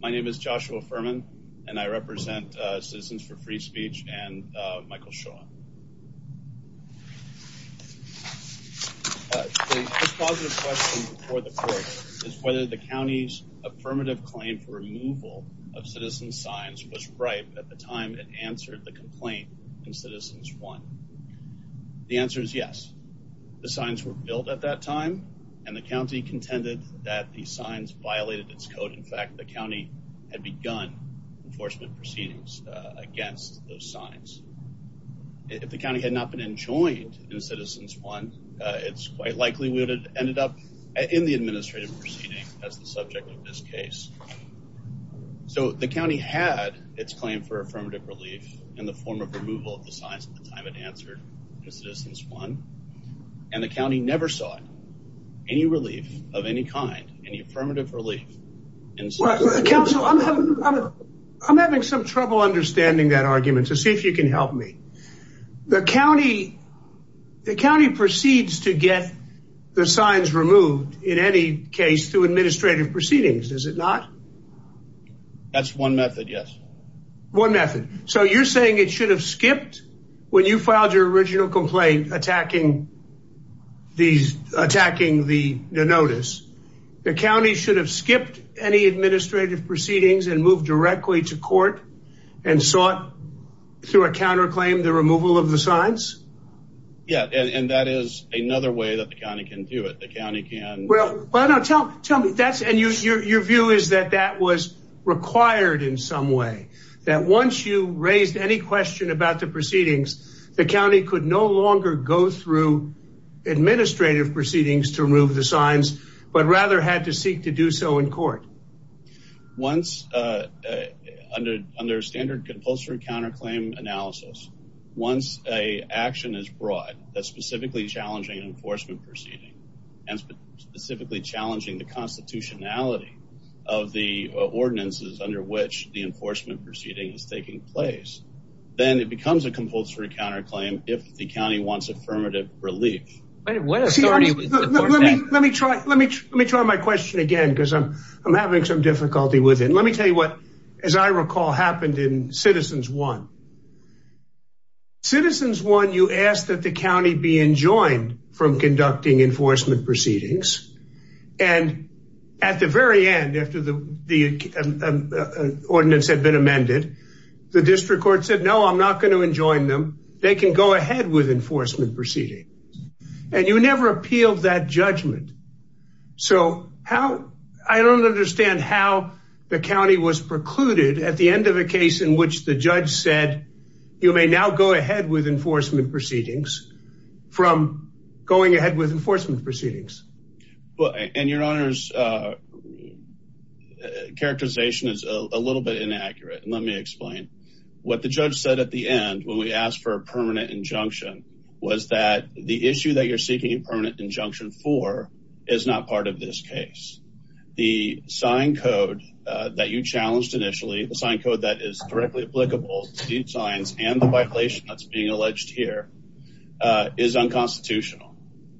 My name is Joshua Furman and I represent Citizens for Free Speech and Michael Shaw. The positive question for the court is whether the county's affirmative claim for removal of citizen signs was right at the time it answered the complaint in Citizens 1. The answer is yes. The signs were built at that time and the county contended that the signs violated its code. In had begun enforcement proceedings against those signs. If the county had not been enjoined in Citizens 1, it's quite likely we would have ended up in the administrative proceeding as the subject of this case. So the county had its claim for affirmative relief in the form of removal of the signs at the time it answered in Citizens 1 and the county never saw any relief of any kind, any affirmative relief. Counsel, I'm having some trouble understanding that argument so see if you can help me. The county proceeds to get the signs removed in any case through administrative proceedings, does it not? That's one method, yes. One method. So you're saying it should have skipped when you filed your original complaint attacking the notice, the county should have skipped any administrative proceedings and moved directly to court and sought through a counterclaim the removal of the signs? Yeah, and that is another way that the county can do it. The county can. Well, no, tell me that's and your view is that that was required in some way, that once you the county could no longer go through administrative proceedings to remove the signs but rather had to seek to do so in court? Once under standard compulsory counterclaim analysis, once a action is brought that's specifically challenging an enforcement proceeding and specifically challenging the constitutionality of the ordinances under which the enforcement proceeding is taking place, then it becomes a compulsory counterclaim if the county wants affirmative relief. Let me try my question again because I'm having some difficulty with it. Let me tell you what, as I recall, happened in Citizens 1. Citizens 1, you asked that the county be enjoined from conducting enforcement proceedings and at the very end after the ordinance had been amended, the district court said, no, I'm not going to enjoin them. They can go ahead with enforcement proceedings and you never appealed that judgment. So how, I don't understand how the county was precluded at the end of a case in which the judge said you may now go ahead with enforcement proceedings from going ahead with enforcement proceedings. Well, and your honor's characterization is a little bit inaccurate and let me explain. What the judge said at the end when we asked for a permanent injunction was that the issue that you're seeking a permanent injunction for is not part of this case. The sign code that you challenged initially, the sign code that is directly applicable to these signs and the violation that's being alleged here is unconstitutional.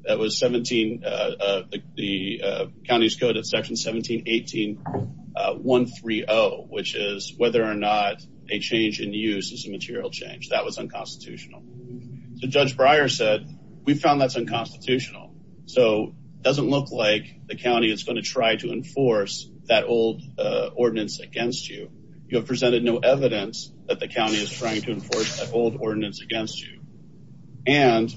That was 17, the county's code at section 1718.130, which is whether or not a change in use is a material change. That was unconstitutional. So Judge Breyer said we found that's unconstitutional. So it doesn't look like the county is going to try to enforce that old ordinance against you. You have presented no evidence that the county is trying to enforce that old ordinance against you. And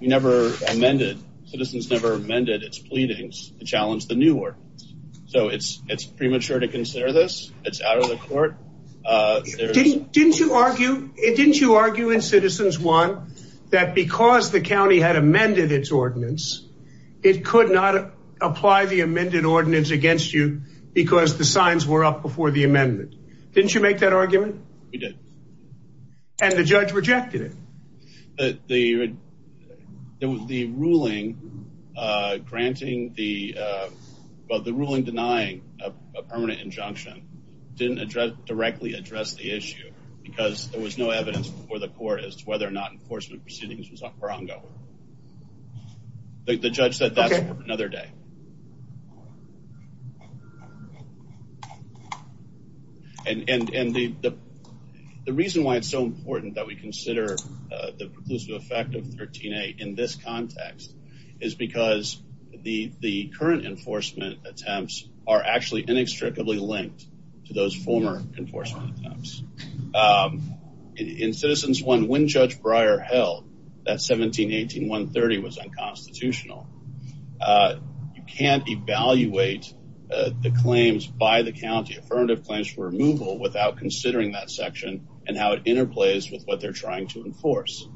you never amended, Citizens never amended its pleadings to challenge the new ordinance. So it's premature to consider this. It's out of the court. Didn't you argue in Citizens 1 that because the county had amended its ordinance, it could not apply the amended ordinance against you because the signs were up before the amendment? Didn't you make that argument? We did. And the judge rejected it? The ruling denying a permanent injunction didn't directly address the issue because there was no evidence before the court as to whether or not enforcement proceedings were ongoing. The judge said that's for another day. And the reason why it's so important that we consider the preclusive effect of 13A in this context is because the current enforcement attempts are actually inextricably linked to those former enforcement attempts. In Citizens 1, when Judge Breyer held that 17-18-130 was unconstitutional, you can't evaluate the claims by the county, affirmative claims for removal, without considering that section and how it interplays with what they're trying to enforce,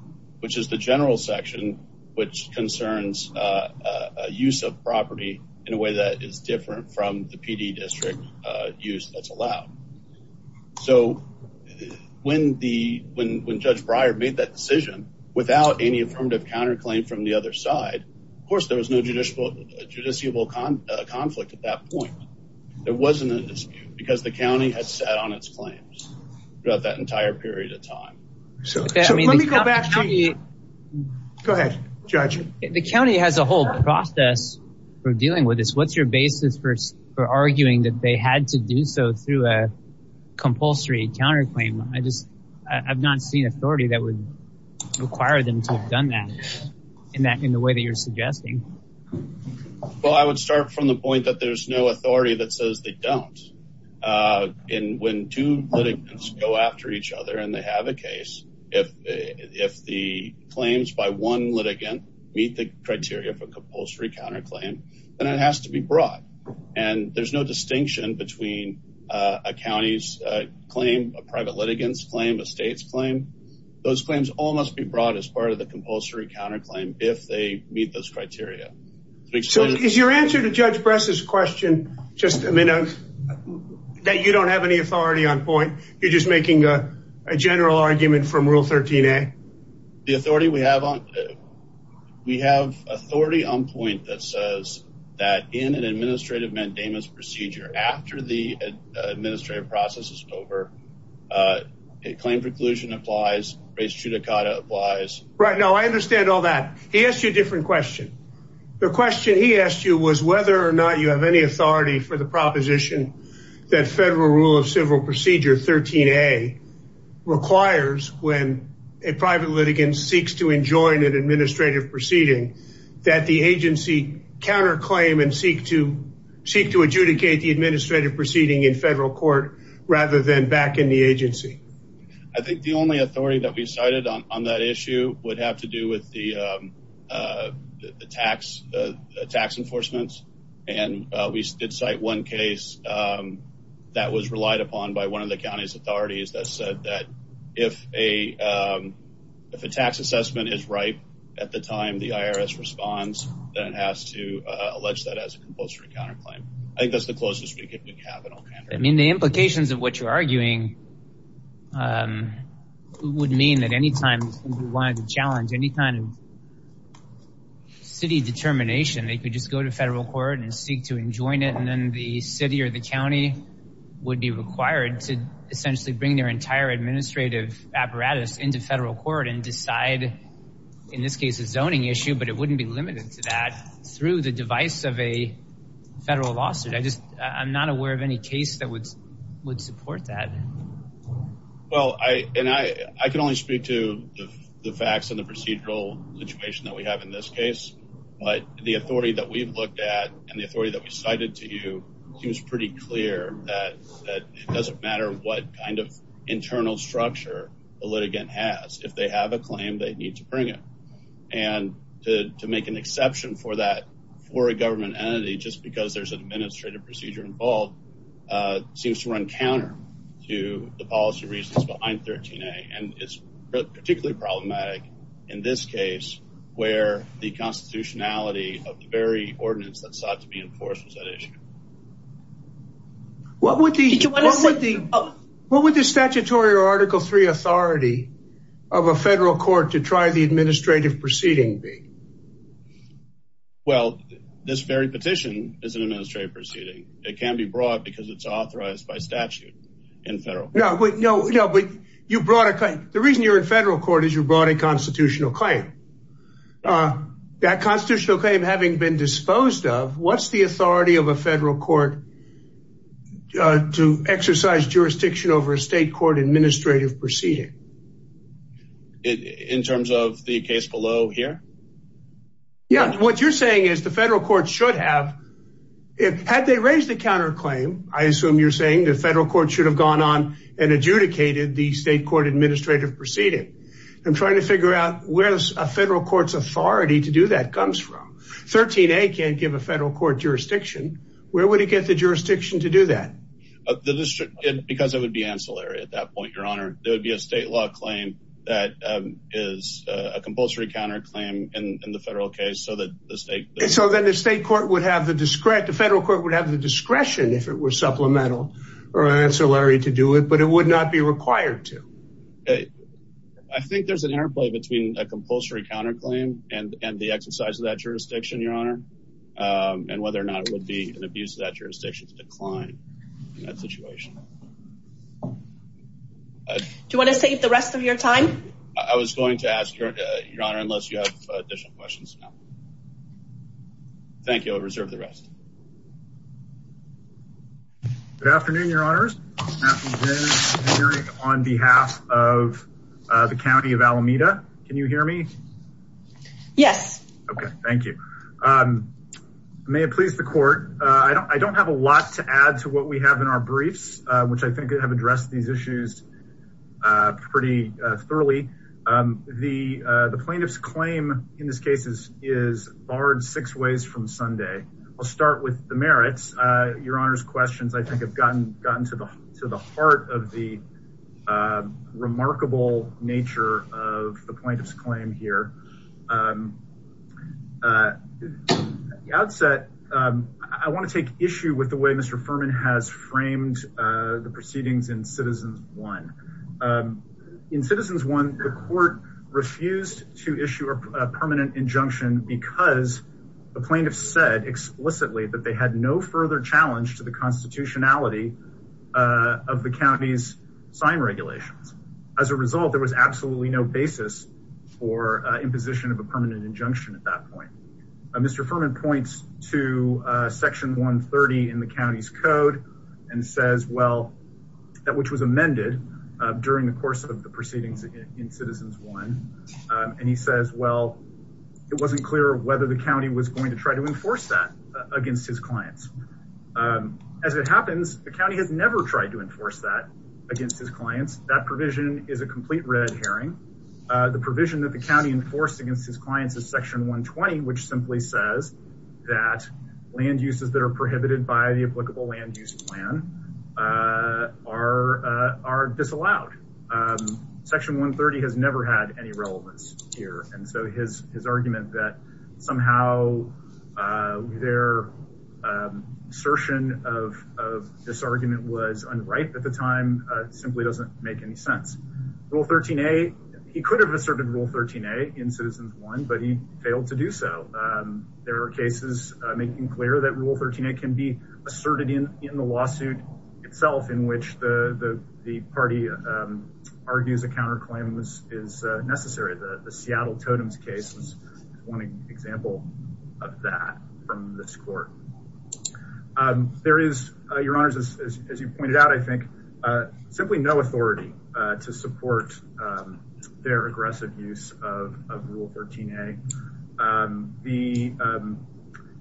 which is the general section, which concerns a use of property in a way that is different from the PD district use that's allowed. So when Judge Breyer made that decision, without any affirmative counterclaim from the other side, of course there was no judiciable conflict at that point. There wasn't a dispute because the county had sat on its claims throughout that entire period of time. So let me go back to you. Go ahead, Judge. The county has a whole process for dealing with this. What's your basis for arguing that they had to do so through a compulsory counterclaim? I've not seen authority that would require them to have done that in the way that you're suggesting. Well, I would start from the point that there's no authority that says they don't. When two litigants go after each other and they have a case, if the claims by one litigant meet the criteria for compulsory counterclaim, then it has to be brought. And there's no distinction between a county's claim, a private litigant's claim, a state's claim. Those claims all must be brought as part of the compulsory counterclaim if they meet those criteria. So is your answer to Judge Bress's question just that you don't have any authority on point? You're just making a We have authority on point that says that in an administrative mandamus procedure, after the administrative process is over, a claim preclusion applies, res judicata applies. Right, no, I understand all that. He asked you a different question. The question he asked you was whether or not you have any authority for the proposition that federal rule of civil procedure 13a requires when a private litigant seeks to enjoin an administrative proceeding that the agency counterclaim and seek to adjudicate the administrative proceeding in federal court rather than back in the agency. I think the only authority that we cited on that issue would have to do with the tax enforcements. And we did cite one case that was relied upon by one of the attorneys. If a tax assessment is ripe at the time the IRS responds, then it has to allege that as a compulsory counterclaim. I think that's the closest we could have. I mean, the implications of what you're arguing would mean that any time you wanted to challenge any kind of city determination, they could just go to federal court and seek to enjoin it. And then the city or the county would be required to essentially bring their entire administrative apparatus into federal court and decide, in this case, a zoning issue. But it wouldn't be limited to that through the device of a federal lawsuit. I'm not aware of any case that would support that. Well, I can only speak to the facts and the procedural situation that we have in this case. But the authority that we've looked at and the authority that we cited to you seems pretty clear that it doesn't matter what kind of internal structure a litigant has. If they have a claim, they need to bring it. And to make an exception for that for a government entity just because there's an administrative procedure involved seems to run counter to the policy reasons behind 13A. And it's particularly problematic in this case where the constitutionality of the very ordinance that sought to be enforced was at issue. What would the statutory or Article III authority of a federal court to try the administrative proceeding be? Well, this very petition is an administrative proceeding. It can be brought because it's authorized by statute in federal court. No, but you brought a claim. The reason you're in federal court is you brought a constitutional claim. That constitutional claim having been disposed of, what's the authority of a federal court to exercise jurisdiction over a state court administrative proceeding? In terms of the case below here? Yeah, what you're saying is the federal court should have, had they raised a counterclaim, I assume you're saying the federal court should have gone on and adjudicated the state court administrative proceeding. I'm trying to figure out where federal court's authority to do that comes from. 13A can't give a federal court jurisdiction. Where would it get the jurisdiction to do that? Because it would be ancillary at that point, your honor. There would be a state law claim that is a compulsory counterclaim in the federal case. So then the federal court would have the discretion if it was supplemental or ancillary to do it, but it would not be required to. Okay. I think there's an interplay between a compulsory counterclaim and the exercise of that jurisdiction, your honor, and whether or not it would be an abuse of that jurisdiction to decline in that situation. Do you want to save the rest of your time? I was going to ask your honor, unless you have additional questions. No. Thank you. I'll reserve the rest. Good afternoon, your honors on behalf of the county of Alameda. Can you hear me? Yes. Okay. Thank you. May it please the court. I don't have a lot to add to what we have in our briefs, which I think have addressed these issues pretty thoroughly. The plaintiff's claim in this is barred six ways from Sunday. I'll start with the merits. Your honor's questions, I think, have gotten to the heart of the remarkable nature of the plaintiff's claim here. At the outset, I want to take issue with the way Mr. Furman has framed the proceedings in citizens one. In citizens one, the court refused to issue a permanent injunction because the plaintiff said explicitly that they had no further challenge to the constitutionality of the county's sign regulations. As a result, there was absolutely no basis for imposition of a permanent injunction at that point. Mr. Furman points to section 130 in the county's code and says, well, that which was amended during the course of the proceedings in citizens one. And he says, well, it wasn't clear whether the county was going to try to enforce that against his clients. As it happens, the county has never tried to enforce that against his clients. That provision is a complete red herring. The provision that the county enforced against his clients is section 120, which simply says that land uses that are prohibited by the applicable land use plan are disallowed. Section 130 has never had any relevance here. And so his argument that somehow their assertion of this argument was unright at the time simply doesn't make any sense. Rule 13a, he could have asserted rule 13a in citizens one, but he failed to do so. There are making clear that rule 13a can be asserted in the lawsuit itself, in which the party argues a counterclaim is necessary. The Seattle Totems case was one example of that from this court. There is, your honors, as you pointed out, I think, simply no authority to support their aggressive use of rule 13a.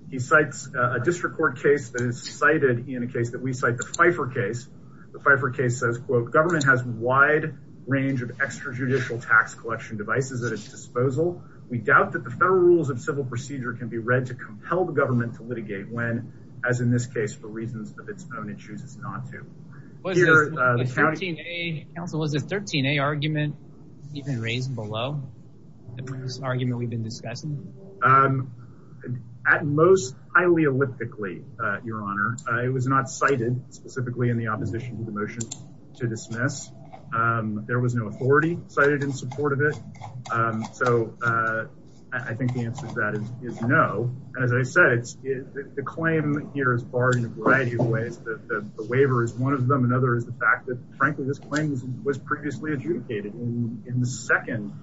He cites a district court case that is cited in a case that we cite, the Pfeiffer case. The Pfeiffer case says, quote, government has a wide range of extrajudicial tax collection devices at its disposal. We doubt that the federal rules of civil procedure can be read to compel the government to litigate when, as in this case, for reasons of its own, it chooses not to. Was the 13a argument even raised below the previous argument we've been discussing? At most, highly elliptically, your honor. It was not cited specifically in the opposition to the motion to dismiss. There was no authority cited in support of it. So I think the answer to that is no. As I said, the claim here is in a variety of ways. The waiver is one of them. Another is the fact that, frankly, this claim was previously adjudicated in the second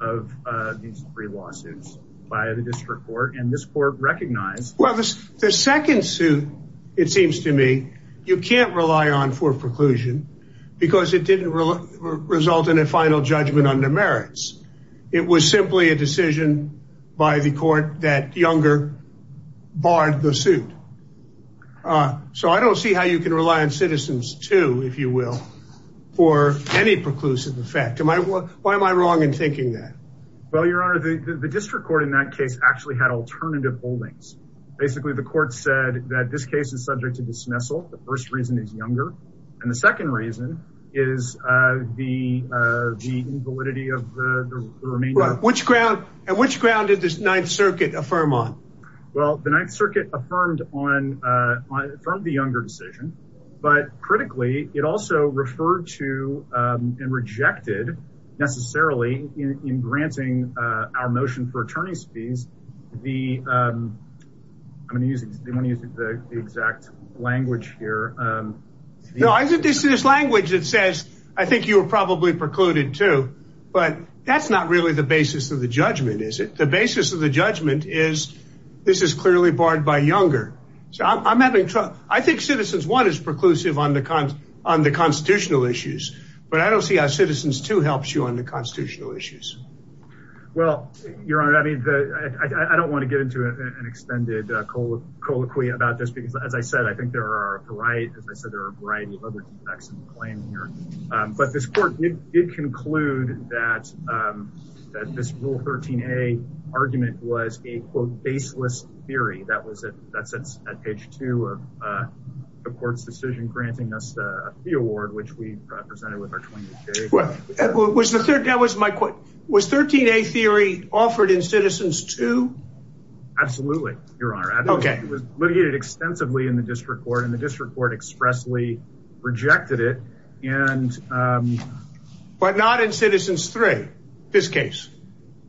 of these three lawsuits by the district court. And this court recognized... Well, the second suit, it seems to me, you can't rely on for preclusion because it didn't result in a final judgment under merits. It was simply a decision by the court that Younger barred the suit. So I don't see how you can rely on Citizens 2, if you will, for any preclusive effect. Why am I wrong in thinking that? Well, your honor, the district court in that case actually had alternative holdings. Basically, the court said that this case is subject to dismissal. The first reason is Younger. And the second reason is the invalidity of the remainder. And which ground did this Ninth Circuit affirm on? Well, the Ninth Circuit affirmed the Younger decision. But critically, it also referred to and rejected, necessarily, in granting our motion for attorney's fees the... I'm going to use the exact language here. No, I think this is language that says, I think you were probably precluded, too. But that's not really the basis of the judgment, is it? The basis of the judgment is, this is clearly barred by Younger. I think Citizens 1 is preclusive on the constitutional issues. But I don't see how Citizens 2 helps you on the constitutional issues. Well, your honor, I don't want to get into an extended colloquy about this because, as I said, I think there are a variety of other defects in the claim here. But this court did conclude that this Rule 13a argument was a, quote, baseless theory. That sits at page two of the court's decision, granting us the award, which we presented with our 20-day period. Was 13a theory offered in Citizens 2? Absolutely, your honor. It was litigated extensively in the district court, and the district court expressly rejected it. But not in Citizens 3, this case?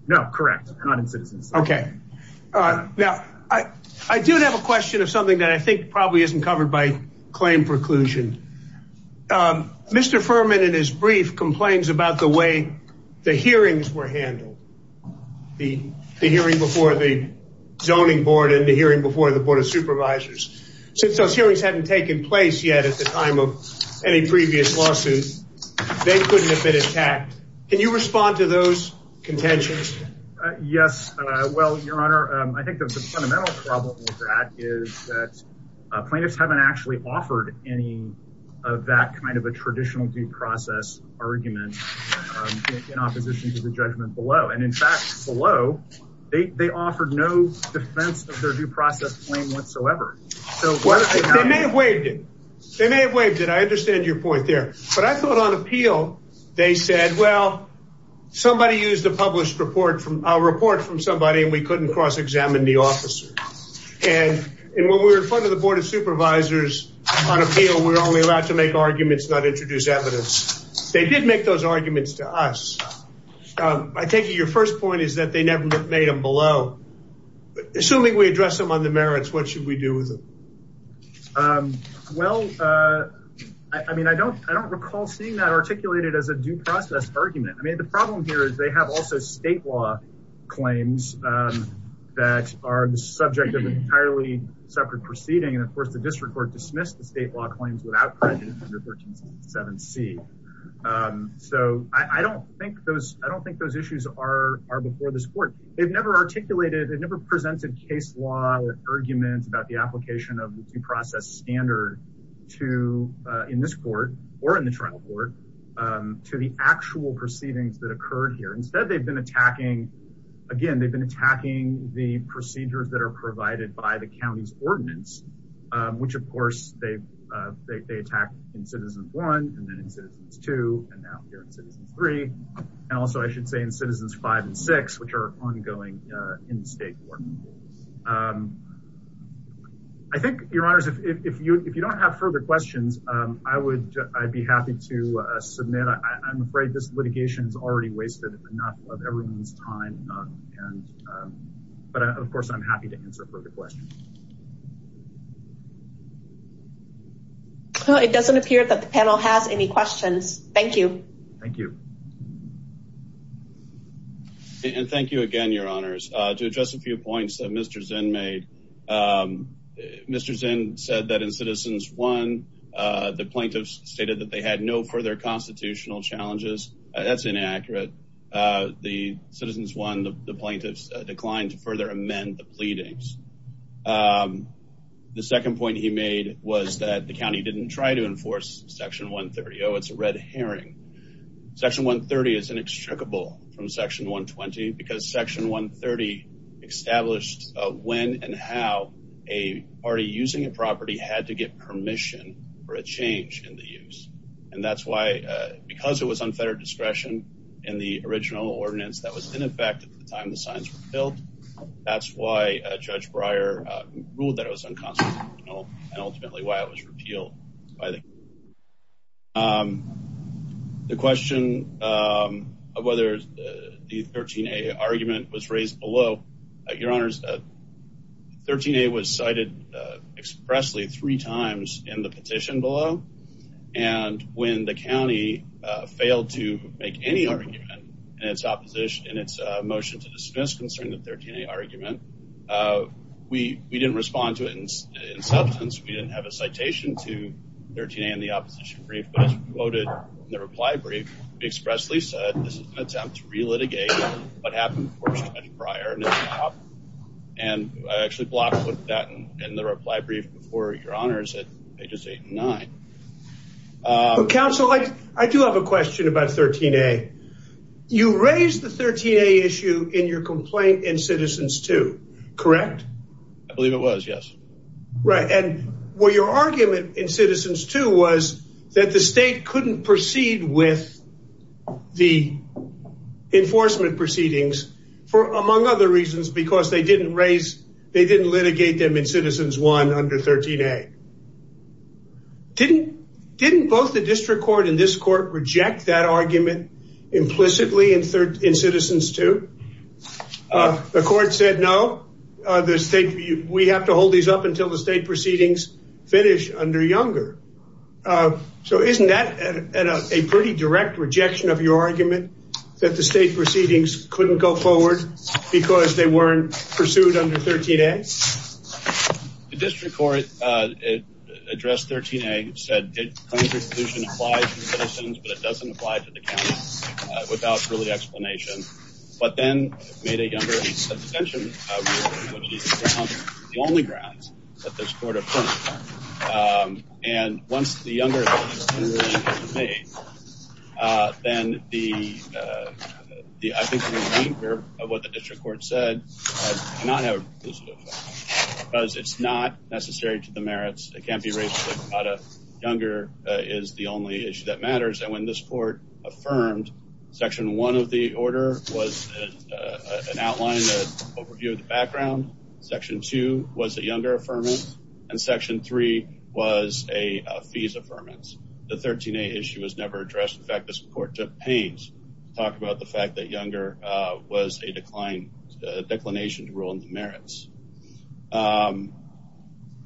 No, correct. Not in Citizens 3. All right. Now, I do have a question of something that I think probably isn't covered by claim preclusion. Mr. Furman, in his brief, complains about the way the hearings were handled, the hearing before the Zoning Board and the hearing before the Board of Supervisors. Since those hearings hadn't taken place yet at the time of any previous lawsuit, they couldn't have been attacked. Can you respond to those contentions? Yes. Well, your honor, I think the fundamental problem with that is that plaintiffs haven't actually offered any of that kind of a traditional due process argument in opposition to the judgment below. And in fact, below, they offered no defense of their due process claim whatsoever. Well, they may have waived it. They may have waived it. I understand your point there. But I thought on appeal, they said, well, somebody used a published report from a report from somebody and we couldn't cross-examine the officer. And when we were in front of the Board of Supervisors on appeal, we were only allowed to make arguments, not introduce evidence. They did make those arguments to us. I take it your first point is that they never made them below. Assuming we address them on the merits, what should we do with them? Well, I mean, I don't recall seeing that articulated as a due process argument. I mean, the problem here is they have also state law claims that are the subject of an entirely separate proceeding. And of course, the district court dismissed the state law claims without under 1367C. So I don't think those issues are before this court. They've never articulated, they've never presented case law arguments about the application of the due process standard to in this court or in the trial court to the actual proceedings that occurred here. Instead, again, they've been attacking the procedures that are provided by the county's ordinance, which, of course, they attack in Citizens 1 and then in Citizens 2 and now here in Citizens 3. And also, I should say in Citizens 5 and 6, which are ongoing in the state court. I think, your honors, if you don't have further questions, I would be happy to submit. I'm afraid this litigation is already wasted enough of everyone's time. But of course, I'm happy to answer any questions. It doesn't appear that the panel has any questions. Thank you. Thank you. And thank you again, your honors. To address a few points that Mr. Zinn made, Mr. Zinn said that in Citizens 1, the plaintiffs stated that they had no further constitutional challenges. That's inaccurate. The Citizens 1, the plaintiffs declined to further amend the section. The second point he made was that the county didn't try to enforce Section 130. Oh, it's a red herring. Section 130 is inextricable from Section 120 because Section 130 established when and how a party using a property had to get permission for a change in the use. And that's why, because it was unfettered discretion in the original ordinance that was in effect at the time the signs were built, that's why Judge Breyer ruled that it was unconstitutional and ultimately why it was repealed. The question of whether the 13A argument was raised below, your honors, 13A was cited expressly three times in the petition below. And when the county failed to make any argument in its opposition, in its motion to dismiss concerning the 13A argument, we didn't respond to it in substance. We didn't have a citation to 13A in the opposition brief, but as quoted in the reply brief, we expressly said this is an attempt to re-litigate what happened before Judge Breyer and I actually blocked that in the reply brief before, your honors, at 13A. You raised the 13A issue in your complaint in Citizens 2, correct? I believe it was, yes. Right, and what your argument in Citizens 2 was that the state couldn't proceed with the enforcement proceedings for among other reasons because they didn't raise, they didn't litigate them in Citizens 1 under 13A. Didn't both the district court and this court reject that argument implicitly in Citizens 2? The court said, no, we have to hold these up until the state proceedings finish under Younger. So isn't that a pretty direct rejection of your argument that the state proceedings couldn't go address 13A? It said, did claims resolution apply to the citizens, but it doesn't apply to the county without early explanation, but then made a Younger substantial, which is the only grounds that this court affirmed. And once the Younger, then the, I think the remainder of what the county raised about a Younger is the only issue that matters. And when this court affirmed section one of the order was an outline, an overview of the background, section two was a Younger affirmance and section three was a fees affirmance. The 13A issue was never addressed. In fact, this court took pains to talk about the fact that Younger was a decline, a declination to merits.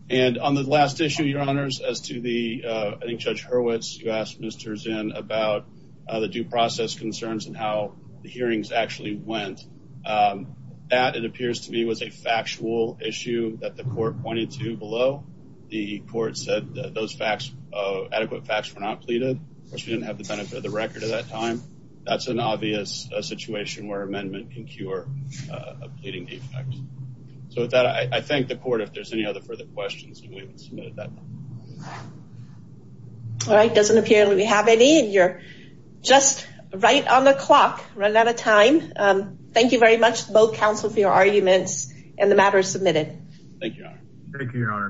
And on the last issue, your honors, as to the, I think Judge Hurwitz, you asked Mr. Zinn about the due process concerns and how the hearings actually went. That it appears to me was a factual issue that the court pointed to below. The court said that those facts, adequate facts were not pleaded. Of course, we didn't have the benefit of the record at that time. That's an obvious situation where amendment can cure a pleading defect. So with that, I thank the court. If there's any other further questions, we will submit at that time. All right. Doesn't appear that we have any and you're just right on the clock, run out of time. Thank you very much, both counsel for your arguments and the matter submitted. Thank you, your honor.